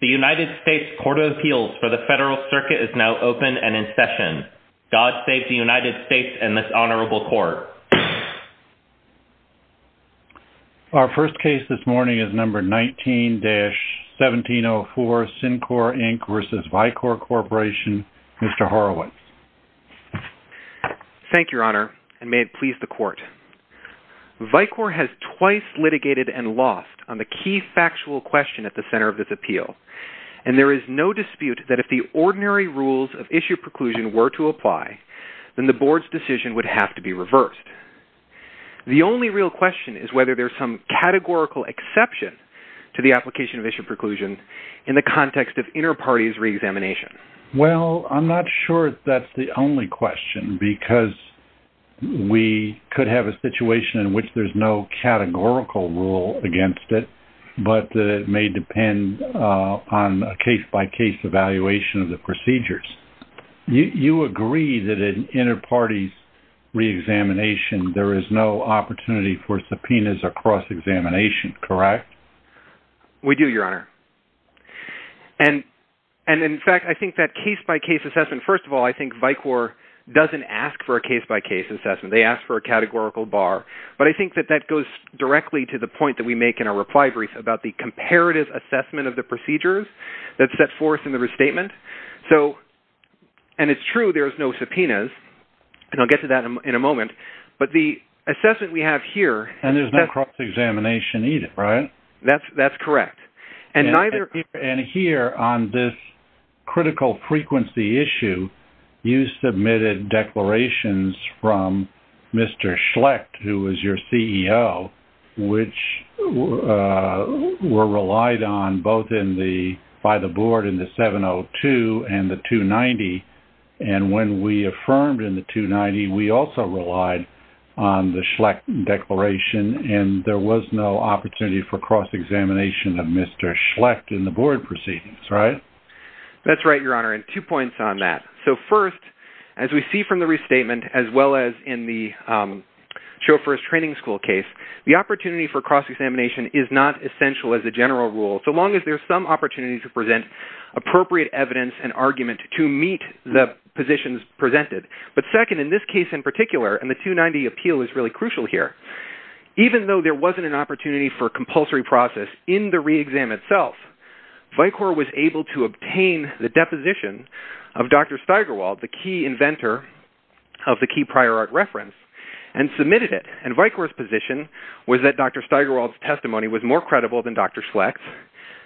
The United States Court of Appeals for the Federal Circuit is now open and in session. God save the United States and this Honorable Court. Our first case this morning is number 19-1704, SynQor, Inc. v. Vicor Corporation. Mr. Horowitz. Thank you, Your Honor, and may it please the Court. Vicor has twice litigated and lost on the key factual question at the center of this appeal, and there is no dispute that if the ordinary rules of issue preclusion were to apply, then the Board's decision would have to be reversed. The only real question is whether there's some categorical exception to the application of issue preclusion in the context of inter-parties reexamination. Well, I'm not sure if that's the only question, because we could have a situation in which there's no categorical rule against it, but it may depend on a case-by-case evaluation of the procedures. You agree that in inter-parties reexamination, there is no opportunity for subpoenas or cross-examination, correct? We do, Your Honor. And, in fact, I think that case-by-case assessment... First of all, I think Vicor doesn't ask for a case-by-case assessment. They ask for a categorical bar. But I think that that goes directly to the point that we make in our reply brief about the comparative assessment of the procedures that's set forth in the restatement. So, and it's true there's no subpoenas, and I'll get to that in a moment, but the assessment we have here... And there's no cross-examination either, right? That's correct. And neither... And here, on this critical frequency issue, you submitted declarations from Mr. Schlecht, who was your CEO, which were relied on both by the Board in the 702 and the 290, and when we affirmed in the 290, we also relied on the Schlecht declaration, and there was no opportunity for cross-examination of Mr. Schlecht in the Board proceedings, right? That's right, Your Honor, and two points on that. So, first, as we see from the restatement, as well as in the chauffeur's training school case, the opportunity for cross-examination is not essential as a general rule, so long as there's some opportunity to present appropriate evidence and argument to meet the positions presented. But second, in this case in particular, and the 290 appeal is really crucial here, even though there wasn't an opportunity for compulsory process in the re-exam itself, Vicor was able to obtain the deposition of Dr. Steigerwald, the key inventor of the key prior art reference, and submitted it, and Vicor's position was that Dr. Steigerwald's testimony was more credible than Dr. Schlecht's.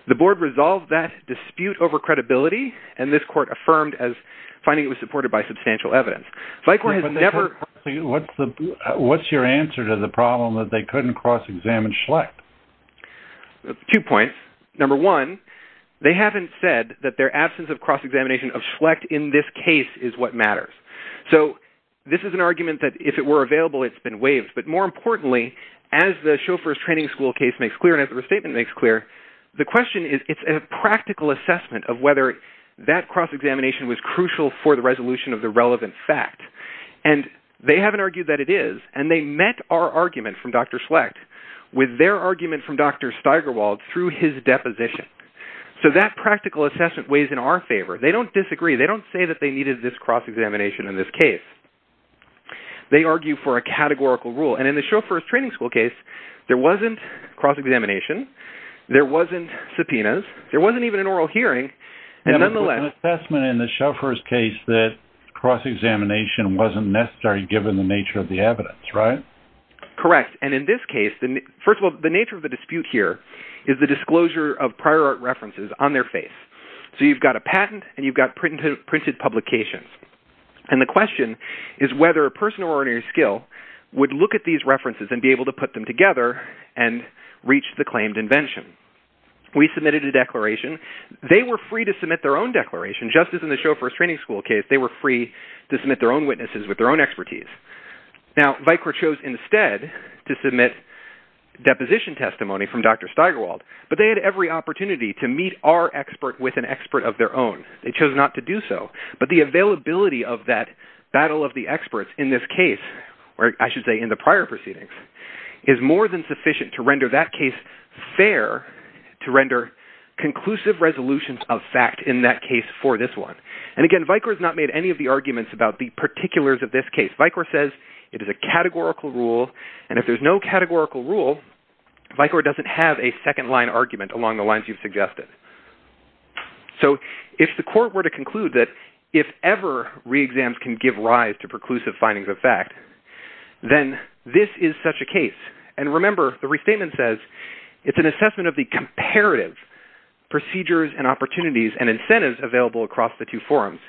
The Board resolved that dispute over credibility, and this Court affirmed as finding it was supported by substantial evidence. What's your answer to the problem that they couldn't cross-examine Schlecht? Two points. Number one, they haven't said that their absence of cross-examination of Schlecht in this case is what matters. So, this is an argument that if it were available, it's been waived, but more importantly, as the chauffeur's training school case makes clear, and as the restatement makes clear, the question is it's a practical assessment of whether that cross-examination was crucial for the resolution of the relevant fact, and they haven't argued that it is, and they met our argument from Dr. Schlecht with their argument from Dr. Steigerwald through his deposition. So, that practical assessment weighs in our favor. They don't disagree. They don't say that they needed this cross-examination in this case. They argue for a categorical rule, and in the chauffeur's training school case, there wasn't cross-examination. There wasn't subpoenas. There wasn't even an oral hearing, and nonetheless... An assessment in the chauffeur's case that cross-examination wasn't necessarily given the nature of the evidence, right? Correct, and in this case, first of all, the nature of the dispute here is the disclosure of prior art references on their face. So, you've got a patent, and you've got printed publications, and the question is whether a person of ordinary skill would look at these references and be able to put them together and reach the claimed invention. We submitted a declaration. They were free to submit their own declaration, just as in the chauffeur's training school case. They were free to submit their own witnesses with their own expertise. Now, VIKR chose instead to submit deposition testimony from Dr. Steigerwald, but they had every opportunity to meet our expert with an expert of their own. They chose not to do so, but the availability of that battle of the experts in this case, or I should say in the prior proceedings, is more than sufficient to render that case fair, to render conclusive resolutions of fact in that case for this one. And again, VIKR has not made any of the arguments about the particulars of this case. VIKR says it is a categorical rule, and if there's no categorical rule, VIKR doesn't have a second-line argument along the lines you've suggested. So if the court were to conclude that if ever reexams can give rise to preclusive findings of fact, then this is such a case. And remember, the restatement says it's an assessment of the comparative procedures and opportunities and incentives available across the two forums.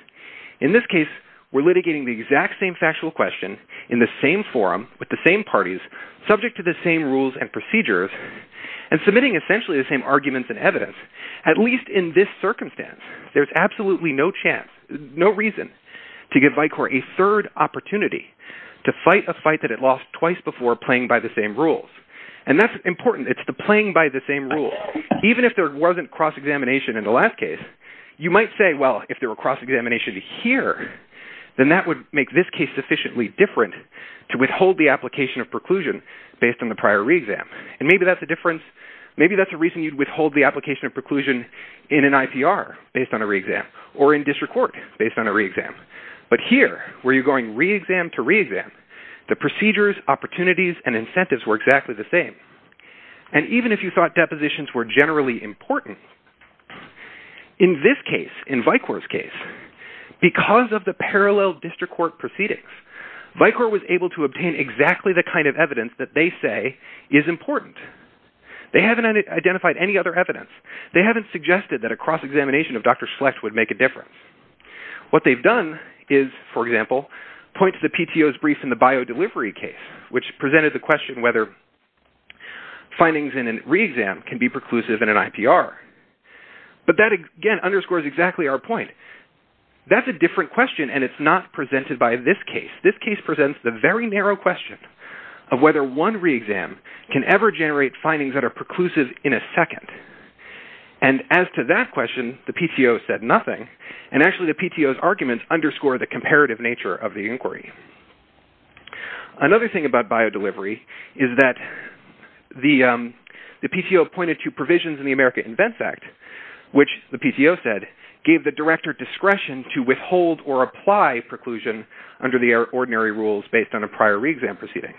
In this case, we're litigating the exact same factual question in the same forum with the same parties, subject to the same rules and procedures, and submitting essentially the same arguments and evidence. At least in this circumstance, there's absolutely no chance, no reason to give VIKR a third opportunity to fight a fight that it lost twice before playing by the same rules. And that's important. It's the playing by the same rules. Even if there wasn't cross-examination in the last case, you might say, well, if there were cross-examination here, then that would make this case sufficiently different to withhold the application of preclusion based on the prior reexam. And maybe that's a reason you'd withhold the application of preclusion in an IPR based on a reexam or in district court based on a reexam. But here, where you're going reexam to reexam, the procedures, opportunities, and incentives were exactly the same. And even if you thought depositions were generally important, in this case, in VIKR's case, because of the parallel district court proceedings, VIKR was able to obtain exactly the kind of evidence that they say is important. They haven't identified any other evidence. They haven't suggested that a cross-examination of Dr. Schlecht would make a difference. What they've done is, for example, point to the PTO's brief in the bio-delivery case, which presented the question whether findings in a reexam can be preclusive in an IPR. But that, again, underscores exactly our point. That's a different question, and it's not presented by this case. This case presents the very narrow question of whether one reexam can ever generate findings that are preclusive in a second. And as to that question, the PTO said nothing. And actually, the PTO's arguments underscore the comparative nature of the inquiry. Another thing about bio-delivery is that the PTO pointed to provisions in the America Invents Act, which the PTO said gave the director discretion to withhold or apply preclusion under the ordinary rules based on a prior reexam proceeding.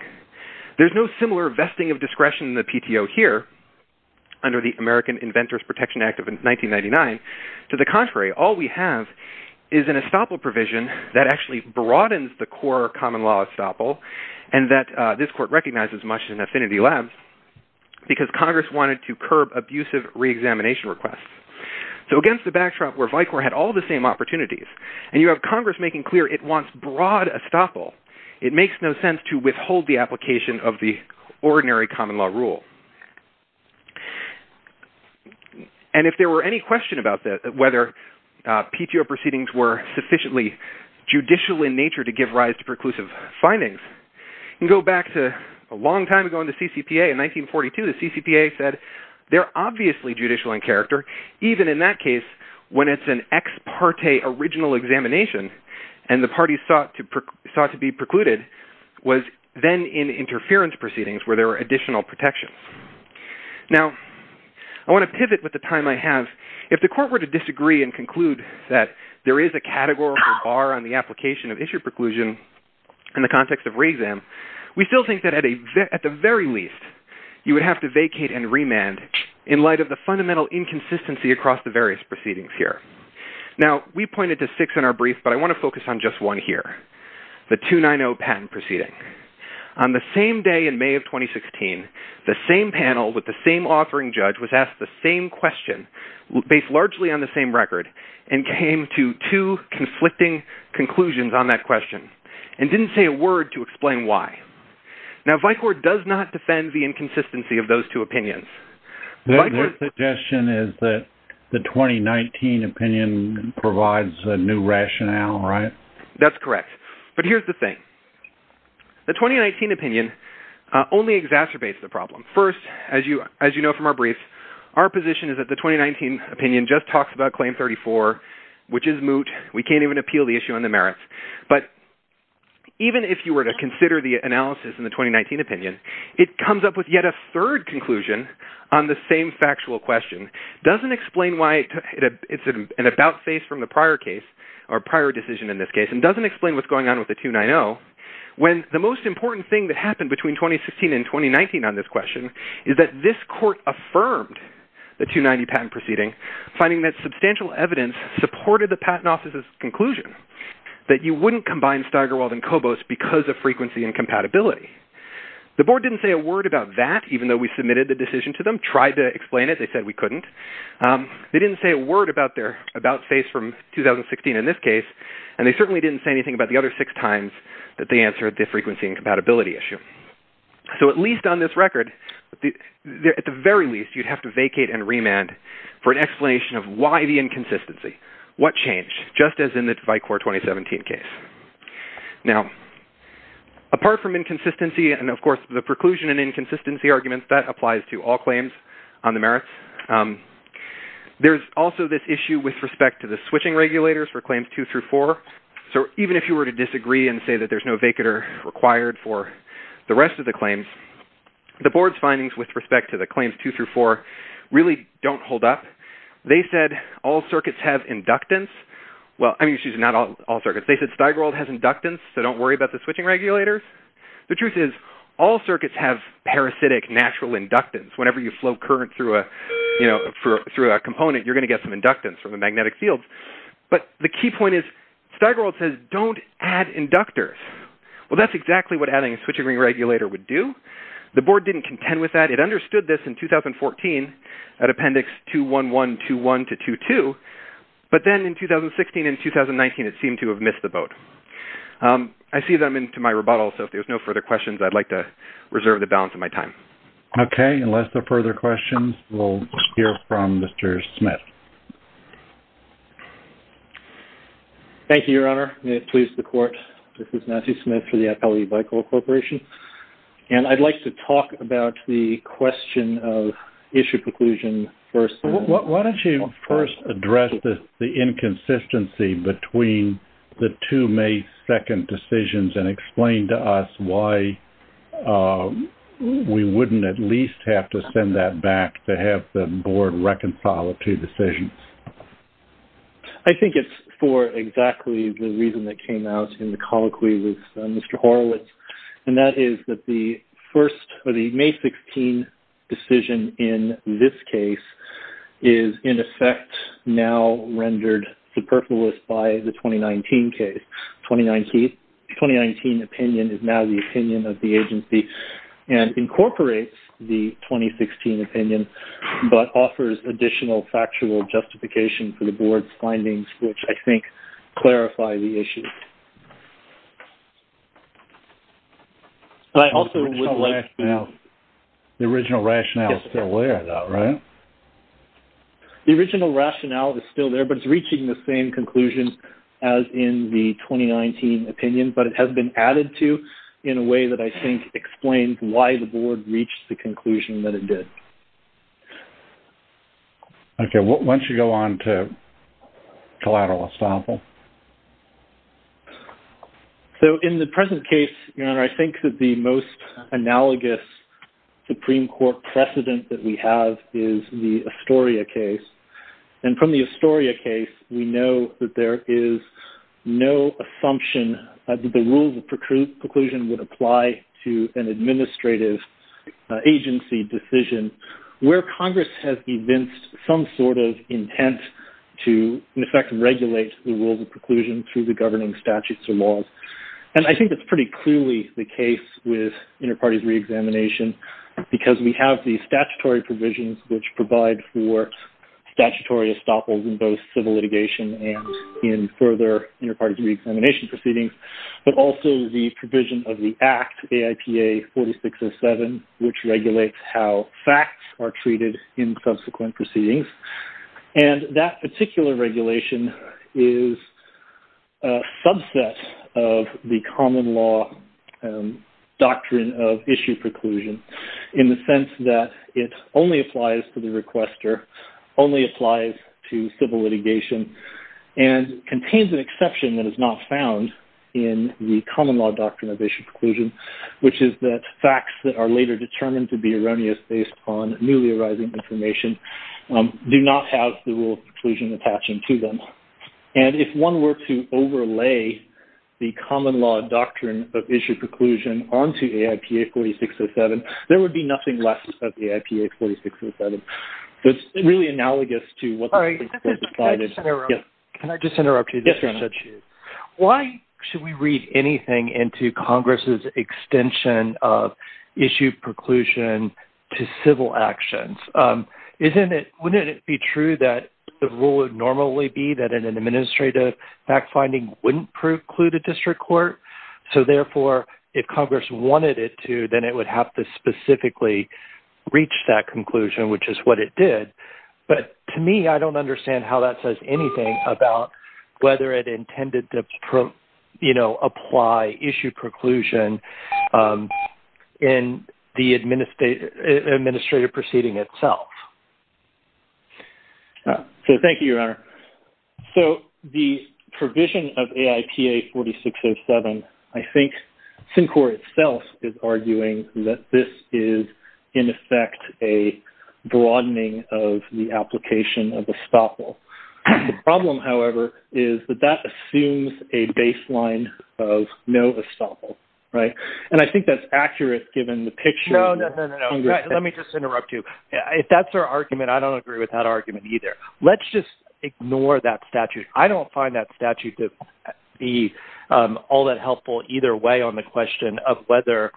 There's no similar vesting of discretion in the PTO here, under the American Inventors Protection Act of 1999. To the contrary, all we have is an estoppel provision that actually broadens the core common law estoppel and that this court recognizes much in Affinity Labs because Congress wanted to curb abusive reexamination requests. So against the backdrop where Vicor had all the same opportunities, and you have Congress making clear it wants broad estoppel, it makes no sense to withhold the application of the ordinary common law rule. And if there were any question about whether PTO proceedings were sufficiently judicial in nature to give rise to preclusive findings, you can go back to a long time ago in the CCPA. In 1942, the CCPA said they're obviously judicial in character, even in that case when it's an ex parte original examination and the parties sought to be precluded was then in interference proceedings where there were additional protections. Now, I want to pivot with the time I have. If the court were to disagree and conclude that there is a categorical bar on the application of issue preclusion in the context of reexam, we still think that at the very least you would have to vacate and remand in light of the fundamental inconsistency across the various proceedings here. Now, we pointed to six in our brief, but I want to focus on just one here, the 290 patent proceeding. On the same day in May of 2016, the same panel with the same offering judge was asked the same question based largely on the same record and came to two conflicting conclusions on that question and didn't say a word to explain why. Now, Vicor does not defend the inconsistency of those two opinions. The suggestion is that the 2019 opinion provides a new rationale, right? That's correct, but here's the thing. The 2019 opinion only exacerbates the problem. First, as you know from our brief, our position is that the 2019 opinion just talks about Claim 34, which is moot. We can't even appeal the issue on the merits. But even if you were to consider the analysis in the 2019 opinion, it comes up with yet a third conclusion on the same factual question. It doesn't explain why it's an about face from the prior case or prior decision in this case and doesn't explain what's going on with the 290 when the most important thing that happened between 2016 and 2019 on this question is that this court affirmed the 290 patent proceeding finding that substantial evidence supported the patent office's conclusion that you wouldn't combine Steigerwald and Kobos because of frequency and compatibility. The board didn't say a word about that, even though we submitted the decision to them, tried to explain it, they said we couldn't. They didn't say a word about their about face from 2016 in this case, and they certainly didn't say anything about the other six times that they answered the frequency and compatibility issue. So at least on this record, at the very least, you'd have to vacate and remand for an explanation of why the inconsistency, what changed, just as in the Vicor 2017 case. Now, apart from inconsistency and, of course, the preclusion and inconsistency arguments, that applies to all claims on the merits, there's also this issue with respect to the switching regulators for claims 2 through 4. So even if you were to disagree and say that there's no vacater required for the rest of the claims, the board's findings with respect to the claims 2 through 4 really don't hold up. They said all circuits have inductance. Well, I mean, excuse me, not all circuits. They said Steigerwald has inductance, so don't worry about the switching regulators. The truth is all circuits have parasitic natural inductance. Whenever you flow current through a component, you're going to get some inductance from the magnetic fields. But the key point is Steigerwald says don't add inductors. Well, that's exactly what adding a switching regulator would do. The board didn't contend with that. It understood this in 2014 at Appendix 21121 to 22, but then in 2016 and 2019 it seemed to have missed the boat. I see that I'm into my rebuttal, so if there's no further questions, I'd like to reserve the balance of my time. Okay, unless there are further questions, we'll hear from Mr. Smith. Thank you, Your Honor. May it please the Court. This is Nancy Smith for the Appellee By-Call Corporation, and I'd like to talk about the question of issue preclusion first. Why don't you first address the inconsistency between the two May 2 decisions and explain to us why we wouldn't at least have to send that back to have the board reconcile the two decisions? I think it's for exactly the reason that came out in the colloquy with Mr. Horowitz, and that is that the May 16 decision in this case is, in effect, now rendered superfluous by the 2019 case. The 2019 opinion is now the opinion of the agency and incorporates the 2016 opinion but offers additional factual justification for the board's findings, which I think clarify the issue. The original rationale is still there, though, right? The original rationale is still there, but it's reaching the same conclusion as in the 2019 opinion, but it has been added to in a way that I think explains why the board reached the conclusion that it did. Okay. Why don't you go on to collateral estoppel? In the present case, Your Honor, I think that the most analogous Supreme Court precedent that we have is the Astoria case. From the Astoria case, we know that there is no assumption that the rules of preclusion would apply to an administrative agency decision where Congress has evinced some sort of intent to, in effect, regulate the rules of preclusion through the governing statutes or laws. And I think that's pretty clearly the case with interparties reexamination because we have the statutory provisions which provide for statutory estoppels in both civil litigation and in further interparties reexamination proceedings, but also the provision of the Act, AIPA 4607, which regulates how facts are treated in subsequent proceedings. And that particular regulation is a subset of the common law doctrine of issue preclusion in the sense that it only applies to the requester, only applies to civil litigation, and contains an exception that is not found in the common law doctrine of issue preclusion, which is that facts that are later determined to be erroneous based on newly arising information do not have the rule of preclusion attaching to them. And if one were to overlay the common law doctrine of issue preclusion onto AIPA 4607, there would be nothing left of AIPA 4607. So it's really analogous to what the Supreme Court decided. Can I just interrupt you? Yes, Your Honor. Why should we read anything into Congress's extension of issue preclusion to civil actions? Wouldn't it be true that the rule would normally be that an administrative fact-finding wouldn't preclude a district court? So therefore, if Congress wanted it to, then it would have to specifically reach that conclusion, which is what it did. But to me, I don't understand how that says anything about whether it intended to, you know, apply issue preclusion in the administrative proceeding itself. So thank you, Your Honor. So the provision of AIPA 4607, I think Syncor itself is arguing that this is, in effect, a broadening of the application of estoppel. The problem, however, is that that assumes a baseline of no estoppel, right? And I think that's accurate given the picture. No, no, no, no, no. Let me just interrupt you. If that's our argument, I don't agree with that argument either. Let's just ignore that statute. I don't find that statute to be all that helpful either way on the question of whether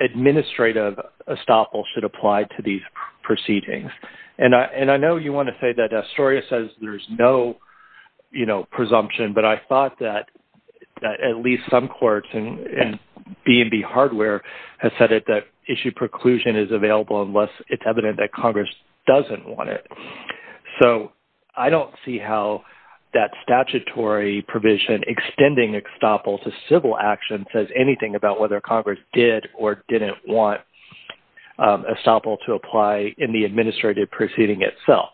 administrative estoppel should apply to these proceedings. And I know you want to say that Astoria says there's no, you know, presumption, but I thought that at least some courts and B&B hardware have said that issue preclusion is available unless it's evident that Congress doesn't want it. So I don't see how that statutory provision extending estoppel to civil action says anything about whether Congress did or didn't want estoppel to apply in the administrative proceeding itself.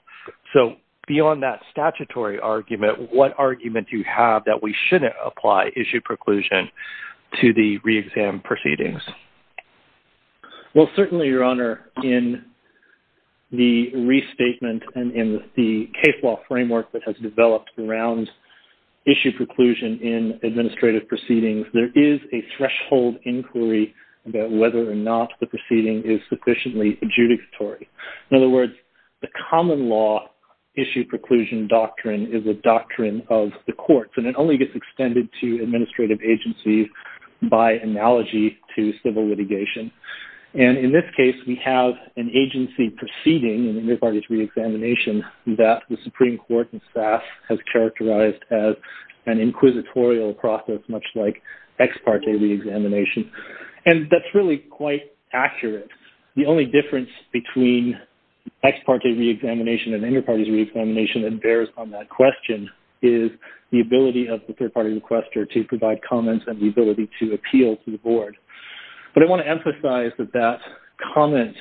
So beyond that statutory argument, what argument do you have that we shouldn't apply issue preclusion to the re-exam proceedings? Well, certainly, Your Honor, in the restatement and in the case law framework that has developed around issue preclusion in administrative proceedings, there is a threshold inquiry about whether or not the proceeding is sufficiently adjudicatory. In other words, the common law issue preclusion doctrine is a doctrine of the courts, and it only gets extended to administrative agencies by analogy to civil litigation. And in this case, we have an agency proceeding in inter-parties re-examination that the Supreme Court and staff have characterized as an inquisitorial process, much like ex parte re-examination. And that's really quite accurate. The only difference between ex parte re-examination and inter-parties re-examination and bears on that question is the ability of the third-party requester to provide comments and the ability to appeal to the board. But I want to emphasize that that comment...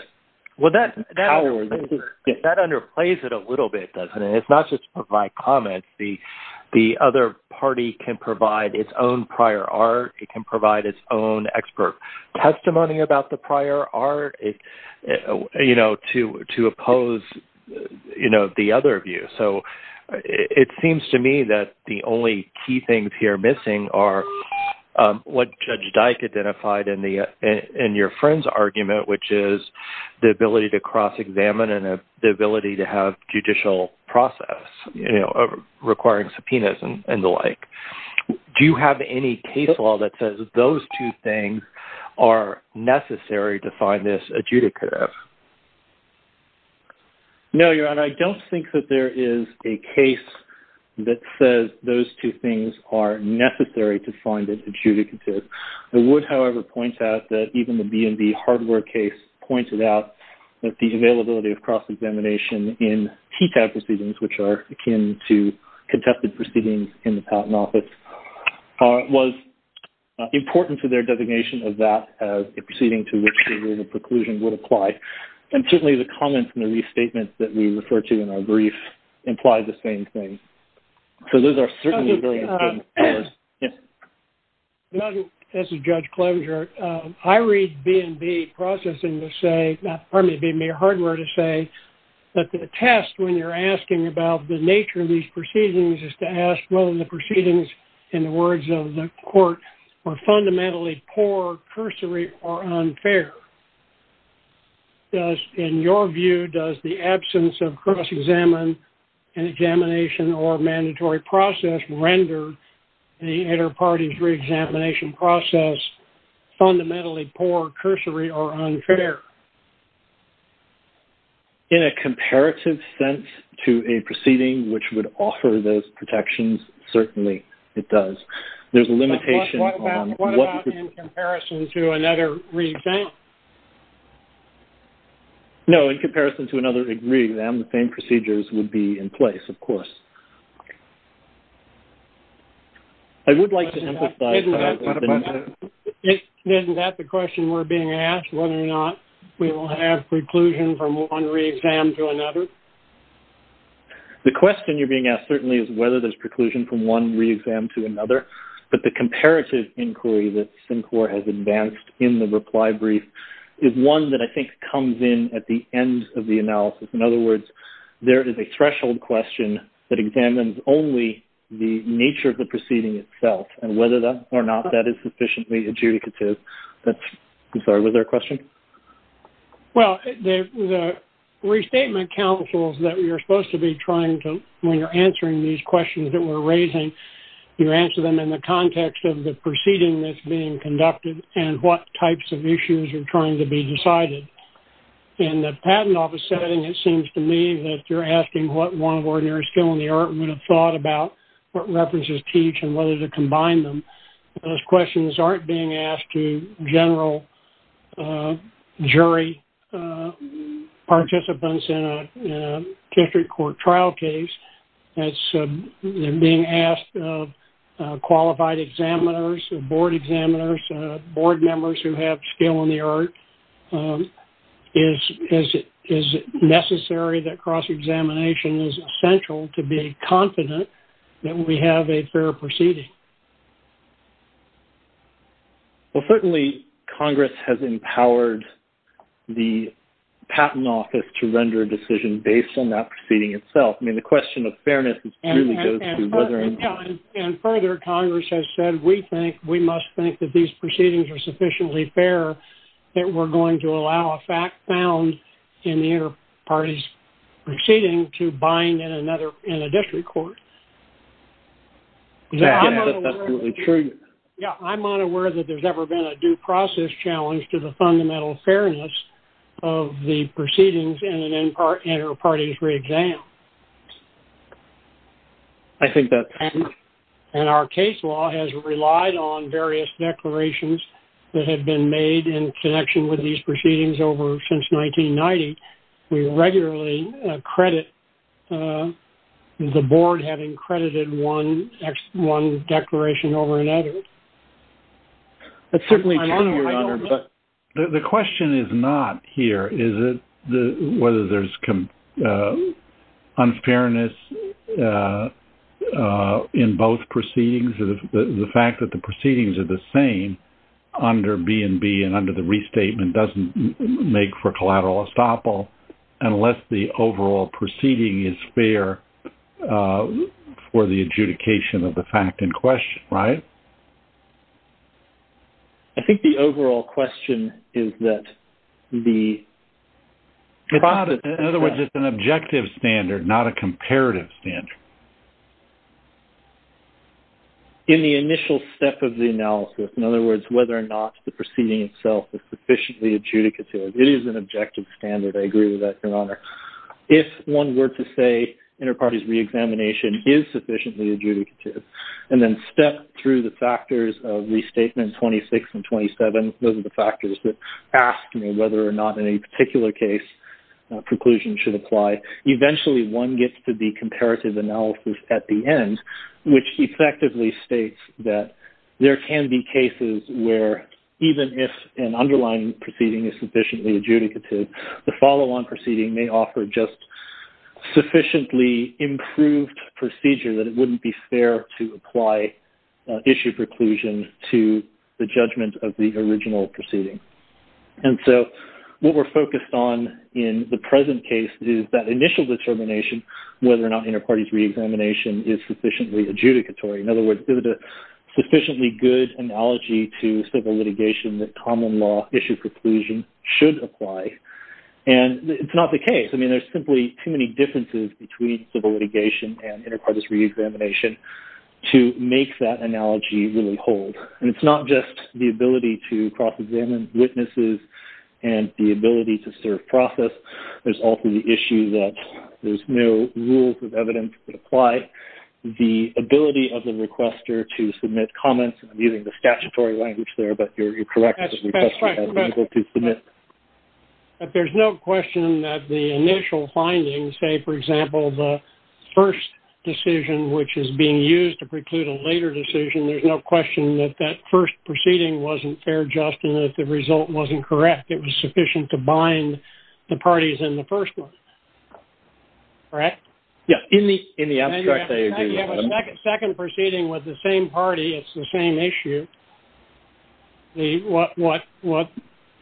Well, that underplays it a little bit, doesn't it? It's not just to provide comments. The other party can provide its own prior art. It can provide its own expert testimony about the prior art, you know, to oppose, you know, the other view. So it seems to me that the only key things here missing are what Judge Dyke identified in your friend's argument, which is the ability to cross-examine and the ability to have judicial process, you know, requiring subpoenas and the like. Do you have any case law that says those two things are necessary to find this adjudicative? No, Your Honor. I don't think that there is a case that says those two things are necessary to find it adjudicative. I would, however, point out that even the B&B hardware case pointed out that the availability of cross-examination in TTAB proceedings, which are akin to contested proceedings in the Patent Office, was important to their designation of that as a proceeding to which the rule of preclusion would apply. And certainly the comments in the restatement that we refer to in our brief imply the same thing. So those are certainly very important. Judge, this is Judge Closier. I read B&B processing to say, pardon me, B&B hardware to say that the test when you're asking about the nature of these proceedings is to ask whether the proceedings in the words of the court are fundamentally poor, cursory, or unfair. In your view, does the absence of cross-examination or mandatory process render the inter-parties re-examination process fundamentally poor, cursory, or unfair? In a comparative sense to a proceeding which would offer those protections, certainly it does. There's a limitation on what... What about in comparison to another re-exam? No, in comparison to another re-exam, the same procedures would be in place, of course. I would like to emphasize... Isn't that the question we're being asked? Whether or not we will have preclusion from one re-exam to another? The question you're being asked certainly is whether there's preclusion from one re-exam to another. But the comparative inquiry that CINCOR has advanced in the reply brief is one that I think comes in at the end of the analysis. In other words, there is a threshold question that examines only the nature of the proceeding itself and whether or not that is sufficiently adjudicative. I'm sorry, was there a question? Well, the restatement counsels that you're supposed to be trying to... When you're answering these questions that we're raising, you answer them in the context of the proceeding that's being conducted and what types of issues are trying to be decided. In the patent office setting, it seems to me that you're asking what one ordinary skill in the art would have thought about what references teach and whether to combine them. Those questions aren't being asked to general jury participants in a district court trial case. They're being asked of qualified examiners, board examiners, board members who have skill in the art. Is it necessary that cross-examination is essential to be confident that we have a fair proceeding? Well, certainly, Congress has empowered the patent office to render a decision based on that proceeding itself. I mean, the question of fairness really goes to whether or not... Yeah, and further, Congress has said we must think that these proceedings are sufficiently fair that we're going to allow a fact found in the inter-parties proceeding to bind in a district court. Yeah, that's absolutely true. Yeah, I'm not aware that there's ever been a due process challenge to the fundamental fairness of the proceedings in an inter-parties re-exam. I think that... And our case law has relied on various declarations that have been made in connection with these proceedings over since 1990. We regularly credit the board having credited one declaration over another. That's certainly true, Your Honor, but... The question is not here, is it, whether there's unfairness in both proceedings, the fact that the proceedings are the same under B&B and under the restatement doesn't make for collateral estoppel unless the overall proceeding is fair for the adjudication of the fact in question, right? I think the overall question is that the... In other words, it's an objective standard, not a comparative standard. In the initial step of the analysis, in other words, whether or not the proceeding itself is sufficiently adjudicative, it is an objective standard. I agree with that, Your Honor. If one were to say inter-parties re-examination is sufficiently adjudicative and then step through the factors of restatement 26 and 27, those are the factors that ask whether or not any particular case preclusion should apply, eventually one gets to the comparative analysis at the end, which effectively states that there can be cases where even if an underlying proceeding is sufficiently adjudicative, the follow-on proceeding may offer just sufficiently improved procedure that it wouldn't be fair to apply issue preclusion to the judgment of the original proceeding. And so what we're focused on in the present case is that initial determination whether or not inter-parties re-examination is sufficiently adjudicatory. In other words, is it a sufficiently good analogy to civil litigation that common law issue preclusion should apply? And it's not the case. I mean, there's simply too many differences between civil litigation and inter-parties re-examination to make that analogy really hold. And it's not just the ability to cross-examine witnesses and the ability to serve process. There's also the issue that there's no rules of evidence that apply. The ability of the requester to submit comments, I'm using the statutory language there, but you're correct. But there's no question that the initial findings, say, for example, the first decision, which is being used to preclude a later decision, there's no question that that first proceeding wasn't fair, Justin, that the result wasn't correct. It was sufficient to bind the parties in the first one. Correct? Yes. In the abstract, I agree with that. You have a second proceeding with the same party. It's the same issue. What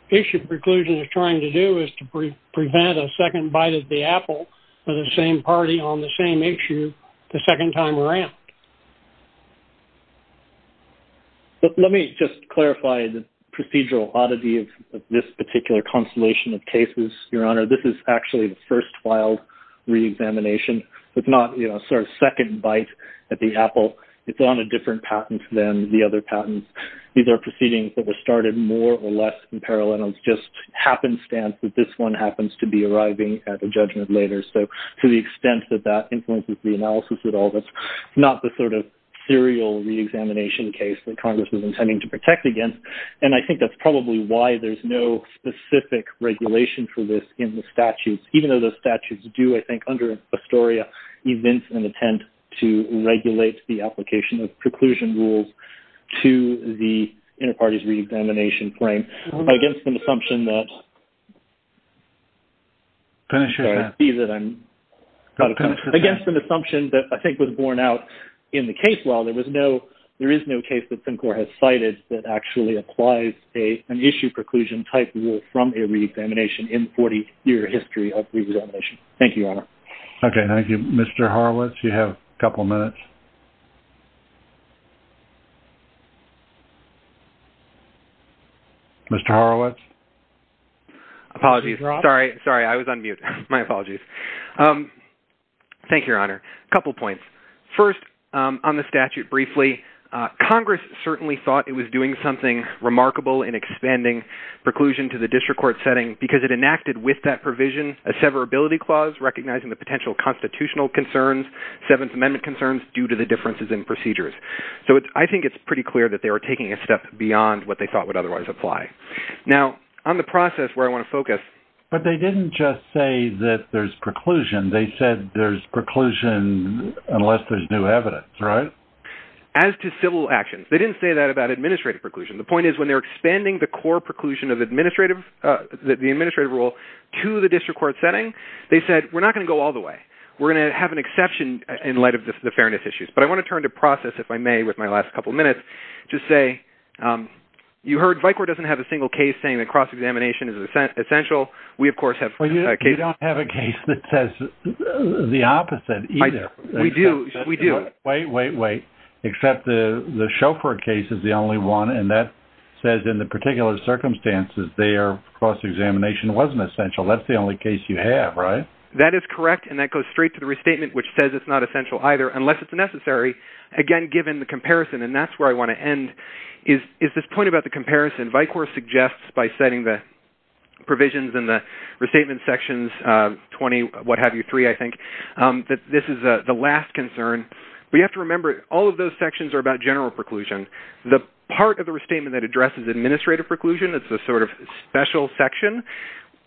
issue preclusion is trying to do is to prevent a second bite at the apple for the same party on the same issue the second time around. Let me just clarify the procedural oddity of this particular constellation of cases, Your Honor. This is actually the first filed re-examination. It's not a sort of second bite at the apple. It's on a different patent than the other patents. These are proceedings that were started more or less in parallel. It's just happenstance that this one happens to be arriving at a judgment later. So, to the extent that that influences the analysis at all, that's not the sort of serial re-examination case that Congress is intending to protect against. And I think that's probably why there's no specific regulation for this in the statutes, even though the statutes do, I think, under Astoria, evince and intend to regulate the application of preclusion rules to the inter-parties re-examination frame. Against an assumption that I think was borne out in the case law, there is no case that CINCOR has cited that actually applies an issue preclusion type rule from a re-examination in 40-year history of re-examination. Thank you, Your Honor. Okay, thank you. Mr. Horowitz, you have a couple minutes. Mr. Horowitz? Apologies. Sorry, I was on mute. My apologies. Thank you, Your Honor. A couple points. First, on the statute briefly, Congress certainly thought it was doing something remarkable in expanding preclusion to the district court setting because it enacted with that provision a severability clause recognizing the potential constitutional concerns, Seventh Amendment concerns due to the differences in procedures. So, I think it's pretty clear that they were taking a step beyond what they thought would otherwise apply. Now, on the process where I want to focus… But they didn't just say that there's preclusion. They said there's preclusion unless there's new evidence, right? As to civil actions, they didn't say that about administrative preclusion. The point is when they were expanding the core preclusion of the administrative rule to the district court setting, they said, we're not going to go all the way. We're going to have an exception in light of the fairness issues. But I want to turn to process, if I may, with my last couple minutes to say, you heard VICOR doesn't have a single case saying that cross-examination is essential. We, of course, have cases… Well, you don't have a case that says the opposite either. We do. We do. Wait, wait, wait. Except the Chauffeur case is the only one, and that says in the particular circumstances their cross-examination wasn't essential. That's the only case you have, right? That is correct, and that goes straight to the restatement, which says it's not essential either, unless it's necessary. Again, given the comparison, and that's where I want to end, is this point about the comparison. VICOR suggests by setting the provisions in the restatement sections 20-what-have-you-3, I think, that this is the last concern. But you have to remember, all of those sections are about general preclusion. The part of the restatement that addresses administrative preclusion is the sort of special section.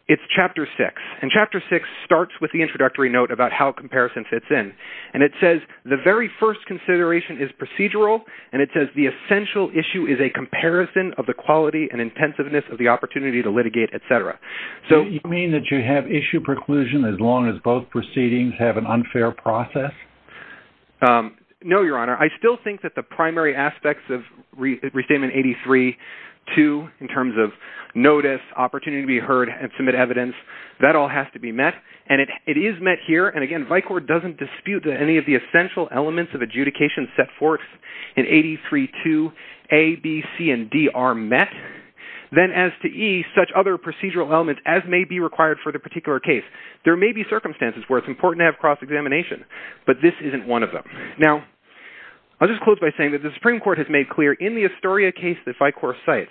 It's Chapter 6, and Chapter 6 starts with the introductory note about how comparison fits in. And it says the very first consideration is procedural, and it says the essential issue is a comparison of the quality and intensiveness of the opportunity to litigate, etc. So you mean that you have issue preclusion as long as both proceedings have an unfair process? No, Your Honor. I still think that the primary aspects of Restatement 83-2, in terms of notice, opportunity to be heard, and submit evidence, that all has to be met. And it is met here, and again, VICOR doesn't dispute that any of the essential elements of adjudication set forth in 83-2A, B, C, and D are met. Then as to E, such other procedural elements as may be required for the particular case. There may be circumstances where it's important to have cross-examination, but this isn't one of them. Now, I'll just close by saying that the Supreme Court has made clear in the Astoria case that VICOR cites,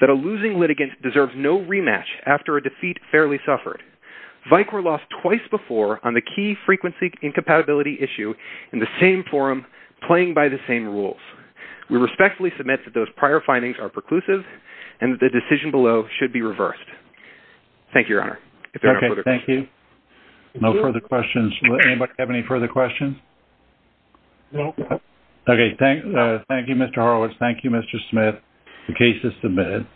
that a losing litigant deserves no rematch after a defeat fairly suffered. VICOR lost twice before on the key frequency incompatibility issue in the same forum, playing by the same rules. We respectfully submit that those prior findings are preclusive, and that the decision below should be reversed. Thank you, Your Honor. Okay, thank you. No further questions. Does anybody have any further questions? No. Okay, thank you, Mr. Horowitz. Thank you, Mr. Smith. The case is submitted.